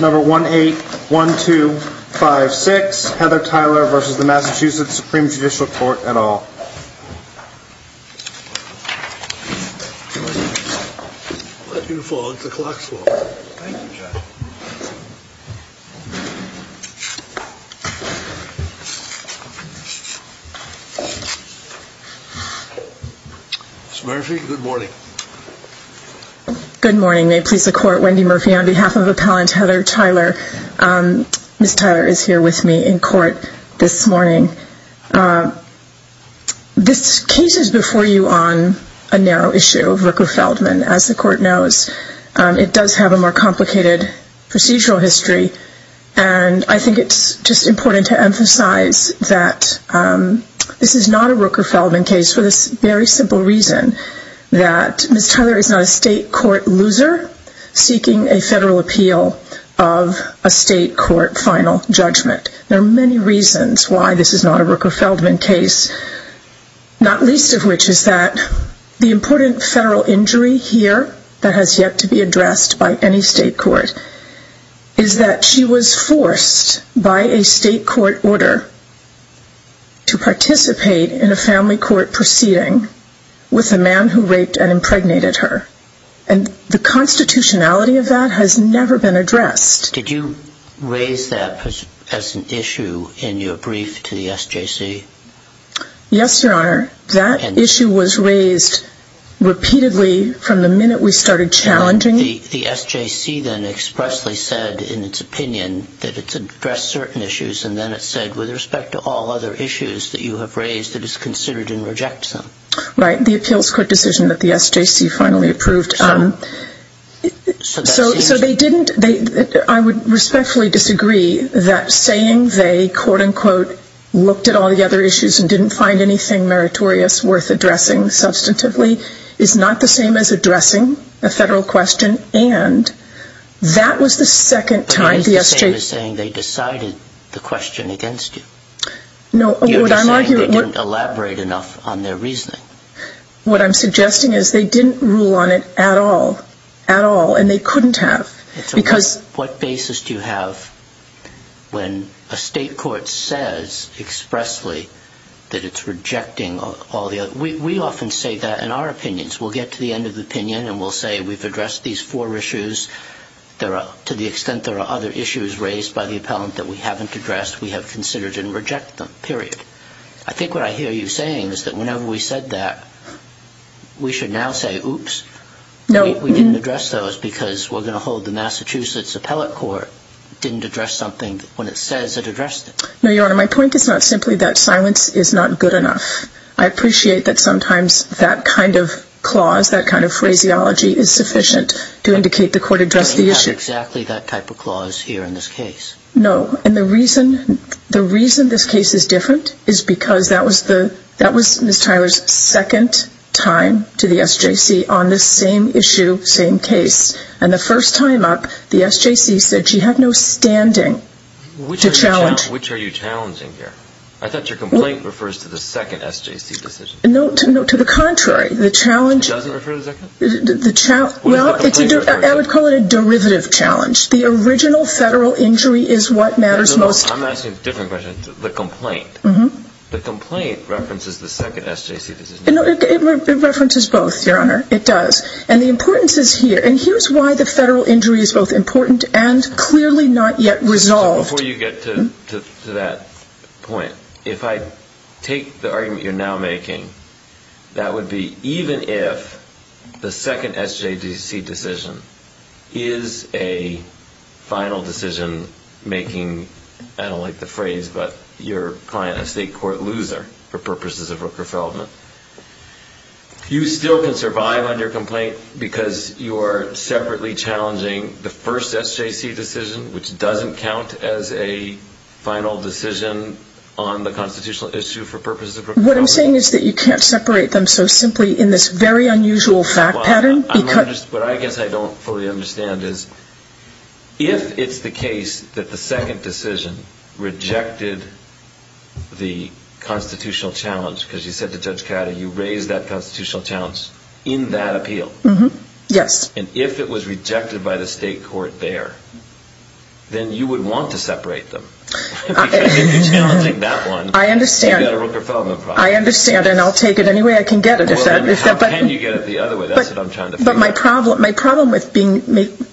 Number 1-8-1-2-5-6 Heather Tyler vs. the Massachusetts Supreme Judicial Court at all. Ms. Murphy, good morning. Good morning. May it please the Court, Wendy Murphy on behalf of Appellant Heather Tyler. Ms. Tyler is here with me in court this morning. This case is before you on a narrow issue, Rooker-Feldman, as the Court knows. It does have a more complicated procedural history. And I think it's just important to emphasize that this is not a Rooker-Feldman case just for the very simple reason that Ms. Tyler is not a state court loser seeking a federal appeal of a state court final judgment. There are many reasons why this is not a Rooker-Feldman case, not least of which is that the important federal injury here that has yet to be addressed by any state court is that she was forced by a state court order to participate in a family court proceeding with a man who raped and impregnated her. And the constitutionality of that has never been addressed. Did you raise that as an issue in your brief to the SJC? Yes, Your Honor. That issue was raised repeatedly from the minute we started challenging it. The SJC then expressly said in its opinion that it's addressed certain issues and then it said, with respect to all other issues that you have raised, that it's considered and rejects them. Right, the appeals court decision that the SJC finally approved. So they didn't, I would respectfully disagree that saying they, quote-unquote, looked at all the other issues and didn't find anything meritorious worth addressing substantively is not the same as addressing a federal question and that was the second time the SJC is saying they decided the question against you. No, what I'm arguing... You're saying they didn't elaborate enough on their reasoning. What I'm suggesting is they didn't rule on it at all, at all, and they couldn't have because... What basis do you have when a state court says expressly that it's rejecting all the other... We often say that in our opinions. We'll get to the end of the opinion and we'll say we've addressed these four issues. To the extent there are other issues raised by the appellant that we haven't addressed, we have considered and rejected them, period. I think what I hear you saying is that whenever we said that, we should now say, oops, we didn't address those because we're going to hold the Massachusetts appellate court didn't address something when it says it addressed it. No, Your Honor, my point is not simply that silence is not good enough. I appreciate that sometimes that kind of clause, that kind of phraseology, is sufficient to indicate the court addressed the issue. We don't have exactly that type of clause here in this case. No, and the reason this case is different is because that was Ms. Tyler's second time to the SJC on this same issue, same case. And the first time up, the SJC said she had no standing to challenge... Which are you challenging here? I thought your complaint refers to the second SJC decision. No, to the contrary. It doesn't refer to the second? Well, I would call it a derivative challenge. The original federal injury is what matters most. I'm asking a different question. The complaint. The complaint references the second SJC decision. It references both, Your Honor. It does. And the importance is here. And here's why the federal injury is both important and clearly not yet resolved. Before you get to that point, if I take the argument you're now making, that would be even if the second SJC decision is a final decision making, I don't like the phrase, but your client a state court loser for purposes of Rooker-Feldman, you still can survive on your complaint because you are separately challenging the first SJC decision, which doesn't count as a final decision on the constitutional issue for purposes of Rooker-Feldman. What I'm saying is that you can't separate them so simply in this very unusual fact pattern. What I guess I don't fully understand is if it's the case that the second decision rejected the constitutional challenge, because you said to Judge Cato you raised that constitutional challenge in that appeal. Yes. And if it was rejected by the state court there, then you would want to separate them. Because if you're challenging that one, you've got a Rooker-Feldman problem. I understand, and I'll take it any way I can get it. How can you get it the other way? That's what I'm trying to figure out. But my problem with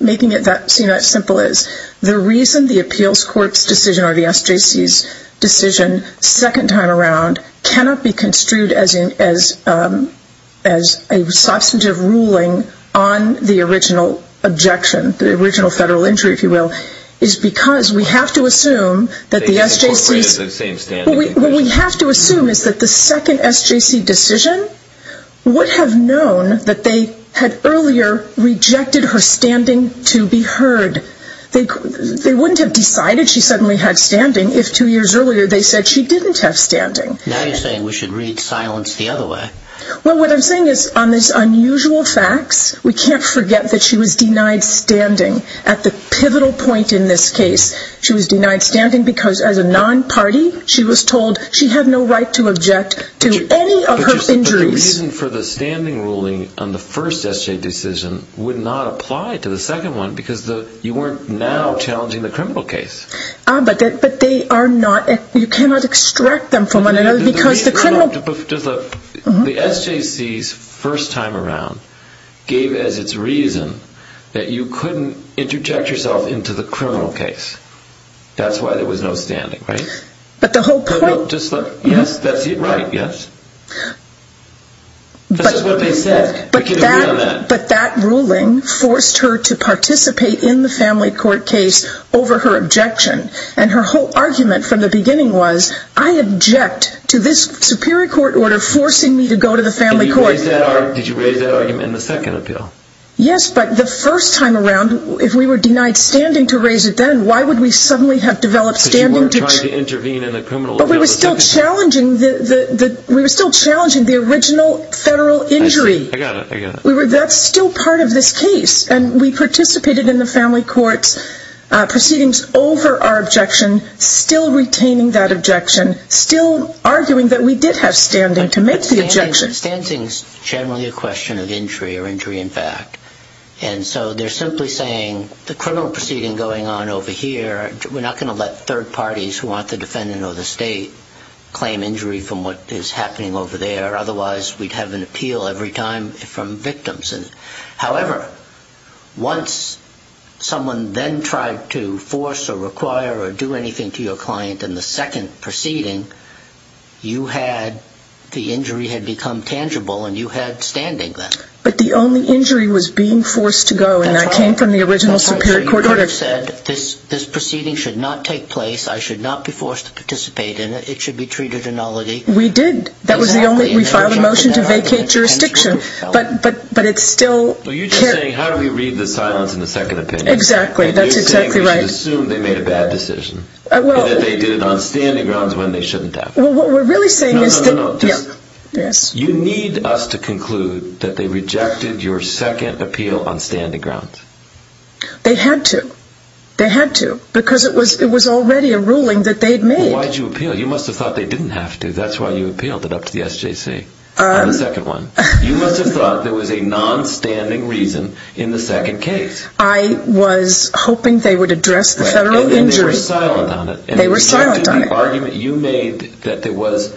making it that simple is the reason the appeals court's decision or the SJC's decision second time around cannot be construed as a substantive ruling on the original objection, the original federal injury, if you will, is because we have to assume that the SJC... The court raises the same standing. What we have to assume is that the second SJC decision would have known that they had earlier rejected her standing to be heard. They wouldn't have decided she suddenly had standing if two years earlier they said she didn't have standing. Now you're saying we should read silence the other way. Well, what I'm saying is on these unusual facts, we can't forget that she was denied standing at the pivotal point in this case. She was denied standing because as a non-party, she was told she had no right to object to any of her injuries. The reason for the standing ruling on the first SJC decision would not apply to the second one because you weren't now challenging the criminal case. But they are not... you cannot extract them from one another because the criminal... The SJC's first time around gave as its reason that you couldn't interject yourself into the criminal case. That's why there was no standing, right? But the whole point... Yes, that's right, yes. This is what they said. We can agree on that. But that ruling forced her to participate in the family court case over her objection. And her whole argument from the beginning was, I object to this superior court order forcing me to go to the family court. Did you raise that argument in the second appeal? Yes, but the first time around, if we were denied standing to raise it then, why would we suddenly have developed standing to... We were still challenging the original federal injury. I got it, I got it. That's still part of this case. And we participated in the family court's proceedings over our objection, still retaining that objection, still arguing that we did have standing to make the objection. Standing is generally a question of injury, or injury in fact. And so they're simply saying, the criminal proceeding going on over here, we're not going to let third parties who aren't the defendant or the state claim injury from what is happening over there. Otherwise, we'd have an appeal every time from victims. However, once someone then tried to force or require or do anything to your client in the second proceeding, you had... the injury had become tangible and you had standing then. But the only injury was being forced to go, and that came from the original Superior Court order. You could have said, this proceeding should not take place, I should not be forced to participate in it, it should be treated ineligibly. We did. That was the only... we filed a motion to vacate jurisdiction. But it still... Are you just saying, how do we read the silence in the second opinion? Exactly, that's exactly right. You're saying we should assume they made a bad decision. Well... And that they did it on standing grounds when they shouldn't have. Well, what we're really saying is that... No, no, no, no. Yes. You need us to conclude that they rejected your second appeal on standing grounds. They had to. They had to. Because it was already a ruling that they'd made. Why'd you appeal? You must have thought they didn't have to. That's why you appealed it up to the SJC. On the second one. You must have thought there was a non-standing reason in the second case. I was hoping they would address the federal injury... And they were silent on it. They were silent on it. You made that there was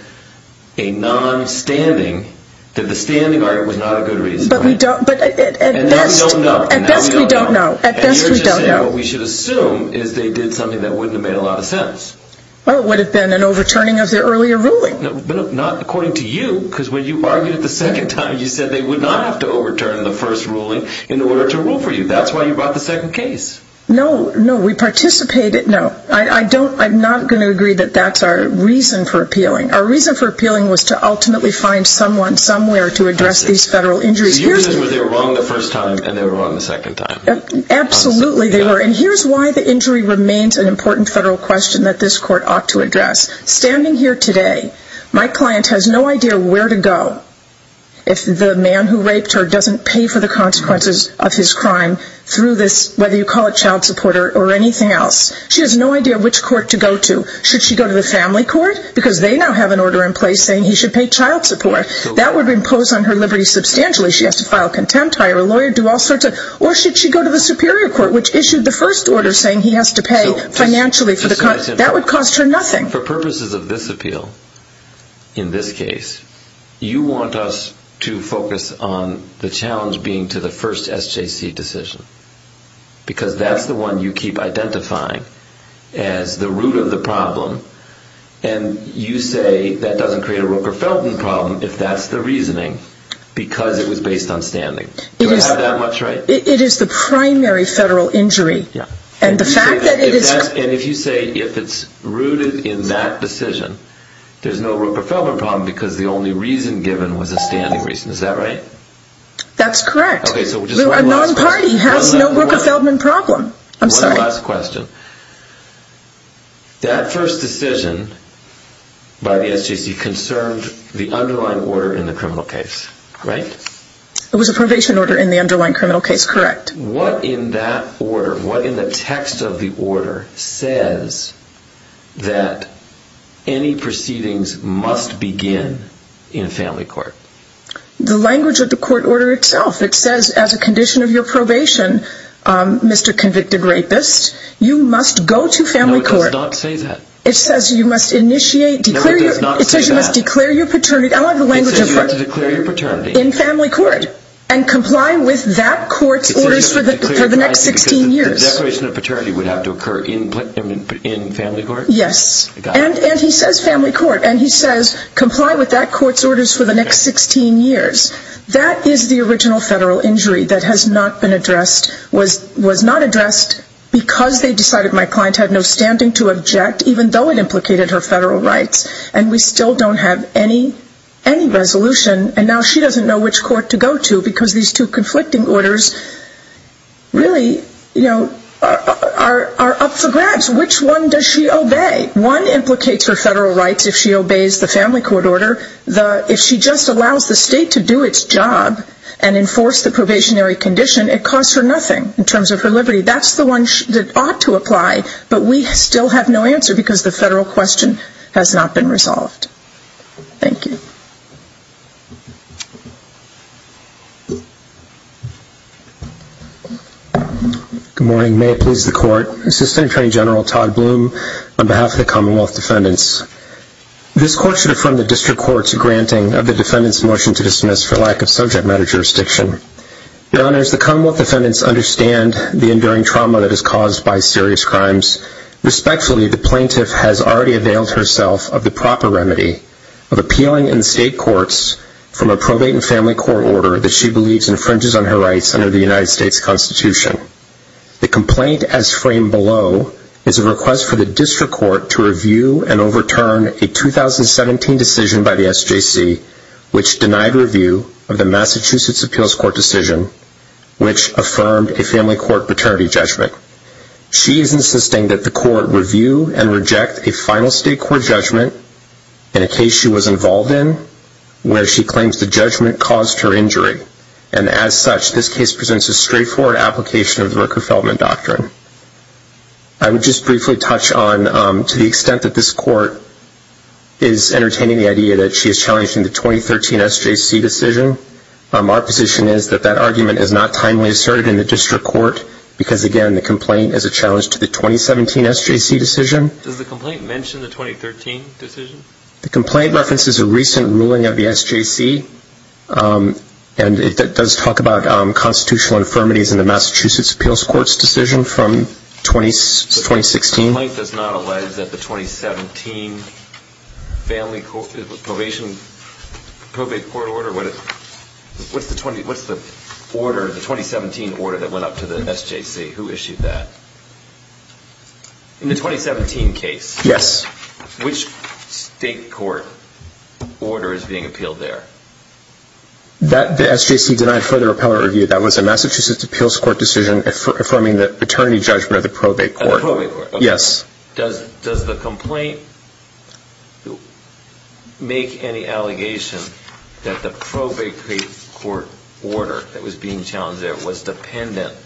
a non-standing, that the standing argument was not a good reason. But we don't... And now we don't know. At best we don't know. And now we don't know. At best we don't know. And you're just saying what we should assume is they did something that wouldn't have made a lot of sense. Well, it would have been an overturning of the earlier ruling. But not according to you, because when you argued it the second time, you said they would not have to overturn the first ruling in order to rule for you. That's why you brought the second case. No, no, we participated... No, I don't... I'm not going to agree that that's our reason for appealing. Our reason for appealing was to ultimately find someone, somewhere to address these federal injuries. So you're saying they were wrong the first time and they were wrong the second time. Absolutely they were. And here's why the injury remains an important federal question that this court ought to address. Standing here today, my client has no idea where to go if the man who raped her doesn't pay for the consequences of his crime through this, whether you call it child support or anything else. She has no idea which court to go to. Should she go to the family court? Because they now have an order in place saying he should pay child support. That would impose on her liberty substantially. She has to file contempt, hire a lawyer, do all sorts of... Or should she go to the superior court, which issued the first order saying he has to pay financially for the... That would cost her nothing. For purposes of this appeal, in this case, you want us to focus on the challenge being to the first SJC decision. Because that's the one you keep identifying as the root of the problem. And you say that doesn't create a Rooker-Felton problem, if that's the reasoning, because it was based on standing. Do I have that much right? It is the primary federal injury. And the fact that it is... And if you say if it's rooted in that decision, there's no Rooker-Feldman problem because the only reason given was a standing reason. Is that right? That's correct. A non-party has no Rooker-Feldman problem. One last question. That first decision by the SJC concerned the underlying order in the criminal case, right? It was a probation order in the underlying criminal case, correct. What in that order, what in the text of the order, says that any proceedings must begin in family court? The language of the court order itself. It says as a condition of your probation, Mr. Convicted Rapist, you must go to family court. No, it does not say that. It says you must initiate... No, it does not say that. It says you must declare your paternity. I like the language of... It says you have to declare your paternity. In family court. And comply with that court's orders for the next 16 years. The declaration of paternity would have to occur in family court? Yes. And he says family court. And he says comply with that court's orders for the next 16 years. That is the original federal injury that has not been addressed, was not addressed because they decided my client had no standing to object, even though it implicated her federal rights. And we still don't have any resolution. And now she doesn't know which court to go to because these two conflicting orders really are up for grabs. Which one does she obey? One implicates her federal rights if she obeys the family court order. If she just allows the state to do its job and enforce the probationary condition, it costs her nothing in terms of her liberty. That's the one that ought to apply, but we still have no answer because the federal question has not been resolved. Thank you. Good morning. May it please the court. Assistant Attorney General Todd Bloom on behalf of the Commonwealth Defendants. This court should affirm the district court's granting of the defendant's motion to dismiss for lack of subject matter jurisdiction. Your Honors, the Commonwealth Defendants understand the enduring trauma that is caused by serious crimes. Respectfully, the plaintiff has already availed herself of the proper remedy of appealing in state courts from a probate and family court order that she believes infringes on her rights under the United States Constitution. The complaint as framed below is a request for the district court to review and overturn a 2017 decision by the SJC which denied review of the Massachusetts Appeals Court decision which affirmed a family court paternity judgment. She is insisting that the court review and reject a final state court judgment in a case she was involved in where she claims the judgment caused her injury and as such this case presents a straightforward application of the Rooker-Feldman Doctrine. I would just briefly touch on to the extent that this court is entertaining the idea that she is challenging the 2013 SJC decision. Our position is that that argument is not timely asserted in the district court because again the complaint is a challenge to the 2017 SJC decision. Does the complaint mention the 2013 decision? The complaint references a recent ruling of the SJC and it does talk about constitutional infirmities in the Massachusetts Appeals Court's decision from 2016. The complaint does not allege that the 2017 family probation probate court order, what's the order, the 2017 order that went up to the SJC, who issued that? In the 2017 case, which state court order is being appealed there? The SJC denied further appellate review. That was a Massachusetts Appeals Court decision affirming the paternity judgment of the probate court. The probate court? Yes. Does the complaint make any allegation that the probate court order that was being challenged there was dependent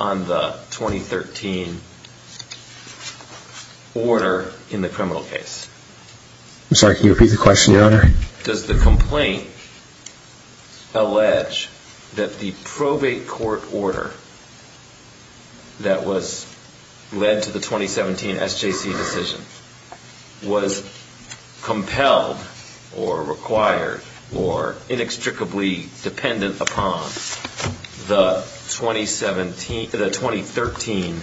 on the 2013 order in the criminal case? I'm sorry, can you repeat the question, Your Honor? Does the complaint allege that the probate court order that led to the 2017 SJC decision was compelled or required or inextricably dependent upon the 2013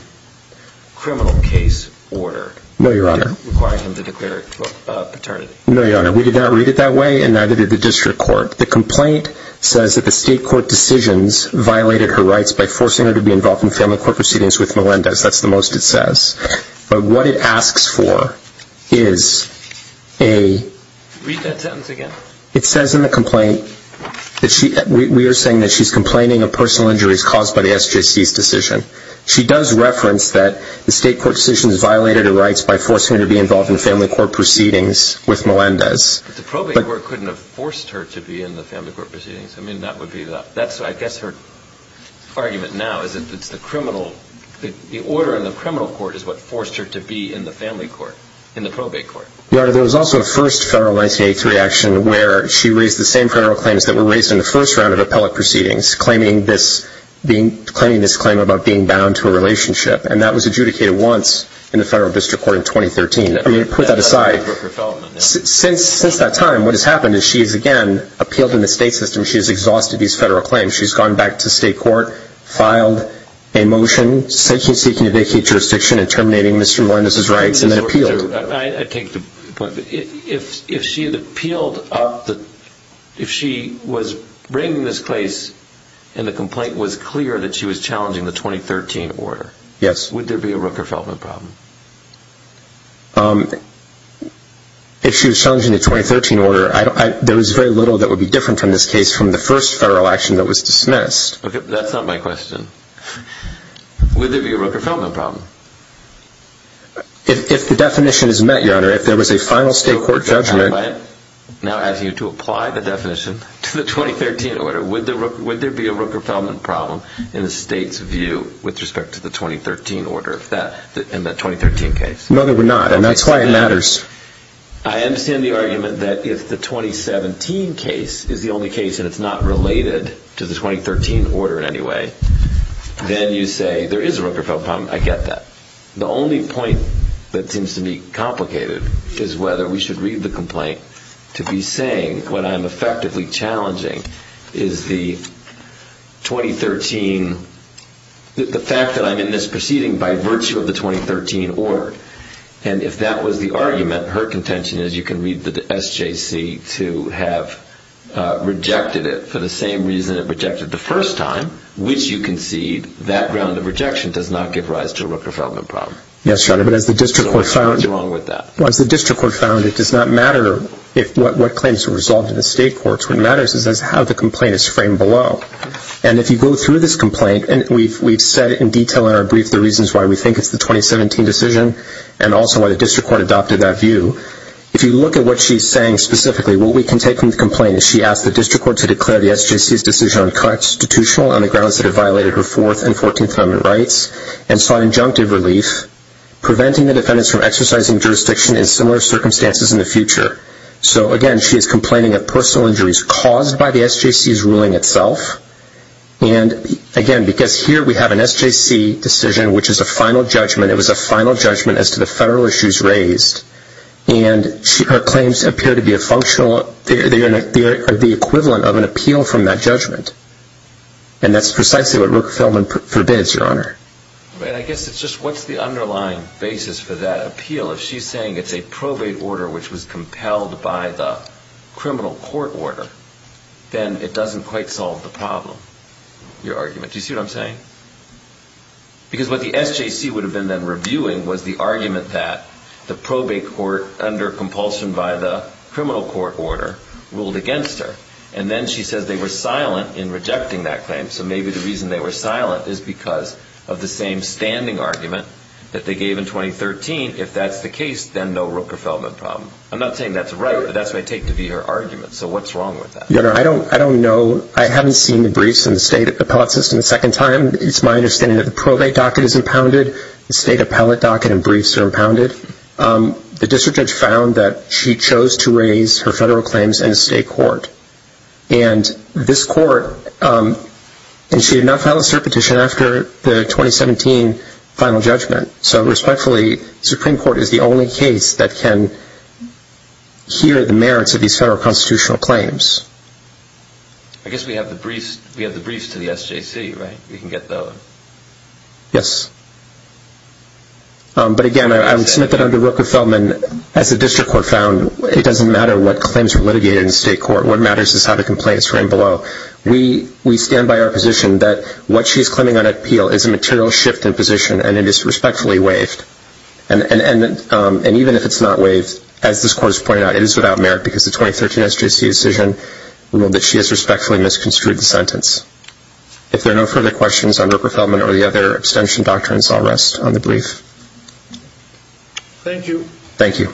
criminal case order? No, Your Honor. Requiring him to declare paternity? No, Your Honor. We did not read it that way and neither did the district court. The complaint says that the state court decisions violated her rights by forcing her to be involved in family court proceedings with Melendez. That's the most it says. But what it asks for is a... Read that sentence again. It says in the complaint that she, we are saying that she's complaining of personal injuries caused by the SJC's decision. She does reference that the state court decisions violated her rights by forcing her to be involved in family court proceedings with Melendez. But the probate court couldn't have forced her to be in the family court proceedings. I mean, that would be the, that's I guess her argument now is that it's the criminal, the order in the criminal court is what forced her to be in the family court, in the probate court. Your Honor, there was also a first federal 1983 action where she raised the same federal claims that were raised in the first round of appellate proceedings, claiming this claim about being bound to a relationship. And that was adjudicated once in the federal district court in 2013. I mean, put that aside. Since that time, what has happened is she has again appealed in the state system. She has exhausted these federal claims. She's gone back to state court, filed a motion, seeking to vacate jurisdiction and terminating Mr. Melendez's rights and then appealed. I take the point. If she had appealed, if she was bringing this case and the complaint was clear that she was challenging the 2013 order, would there be a Rooker-Feldman problem? If she was challenging the 2013 order, there was very little that would be different from this case from the first federal action that was dismissed. That's not my question. Would there be a Rooker-Feldman problem? If the definition is met, Your Honor, if there was a final state court judgment. I am now asking you to apply the definition to the 2013 order. Would there be a Rooker-Feldman problem in the state's view with respect to the 2013 order in the 2013 case? No, there would not. And that's why it matters. I understand the argument that if the 2017 case is the only case and it's not related to the 2013 order in any way, then you say there is a Rooker-Feldman problem. I get that. The only point that seems to me complicated is whether we should read the complaint to be saying what I'm effectively challenging is the 2013, the fact that I'm in this proceeding by virtue of the 2013 order. And if that was the argument, her contention is you can read the SJC to have rejected it for the same reason it rejected the first time, which you concede, that ground of rejection does not give rise to a Rooker-Feldman problem. Yes, Your Honor, but as the district court found... So what's wrong with that? As the district court found, it does not matter what claims are resolved in the state courts. What matters is how the complaint is framed below. And if you go through this complaint, and we've said in detail in our brief the reasons why we think it's the 2017 decision and also why the district court adopted that view, if you look at what she's saying specifically, what we can take from the complaint is she asked the district court to declare the SJC's decision unconstitutional on the grounds that it violated her Fourth and Fourteenth Amendment rights and sought injunctive relief, preventing the defendants from exercising jurisdiction in similar circumstances in the future. So, again, she is complaining of personal injuries caused by the SJC's ruling itself. And, again, because here we have an SJC decision, which is a final judgment, it was a final judgment as to the federal issues raised, and her claims appear to be a functional... They are the equivalent of an appeal from that judgment. And that's precisely what Brooke Feldman forbids, Your Honor. I guess it's just what's the underlying basis for that appeal? If she's saying it's a probate order which was compelled by the criminal court order, then it doesn't quite solve the problem, your argument. Do you see what I'm saying? Because what the SJC would have been then reviewing was the argument that the probate court, under compulsion by the criminal court order, ruled against her. And then she says they were silent in rejecting that claim. So maybe the reason they were silent is because of the same standing argument that they gave in 2013. If that's the case, then no Brooke Feldman problem. I'm not saying that's right, but that's what I take to be her argument. So what's wrong with that? Your Honor, I don't know. I haven't seen the briefs in the state appellate system a second time. It's my understanding that the probate docket is impounded. The state appellate docket and briefs are impounded. The district judge found that she chose to raise her federal claims in a state court. And this court... And she did not file a cert petition after the 2017 final judgment. So respectfully, the Supreme Court is the only case that can hear the merits of these federal constitutional claims. I guess we have the briefs to the SJC, right? We can get those. Yes. But again, I would submit that under Brooke Feldman, as the district court found, it doesn't matter what claims were litigated in state court. What matters is how the complaints ran below. We stand by our position that what she's claiming on appeal is a material shift in position, and it is respectfully waived. And even if it's not waived, as this court has pointed out, it is without merit because the 2013 SJC decision ruled that she has respectfully misconstrued the sentence. If there are no further questions on Brooke Feldman or the other abstention doctrines, I'll rest on the brief. Thank you. Thank you.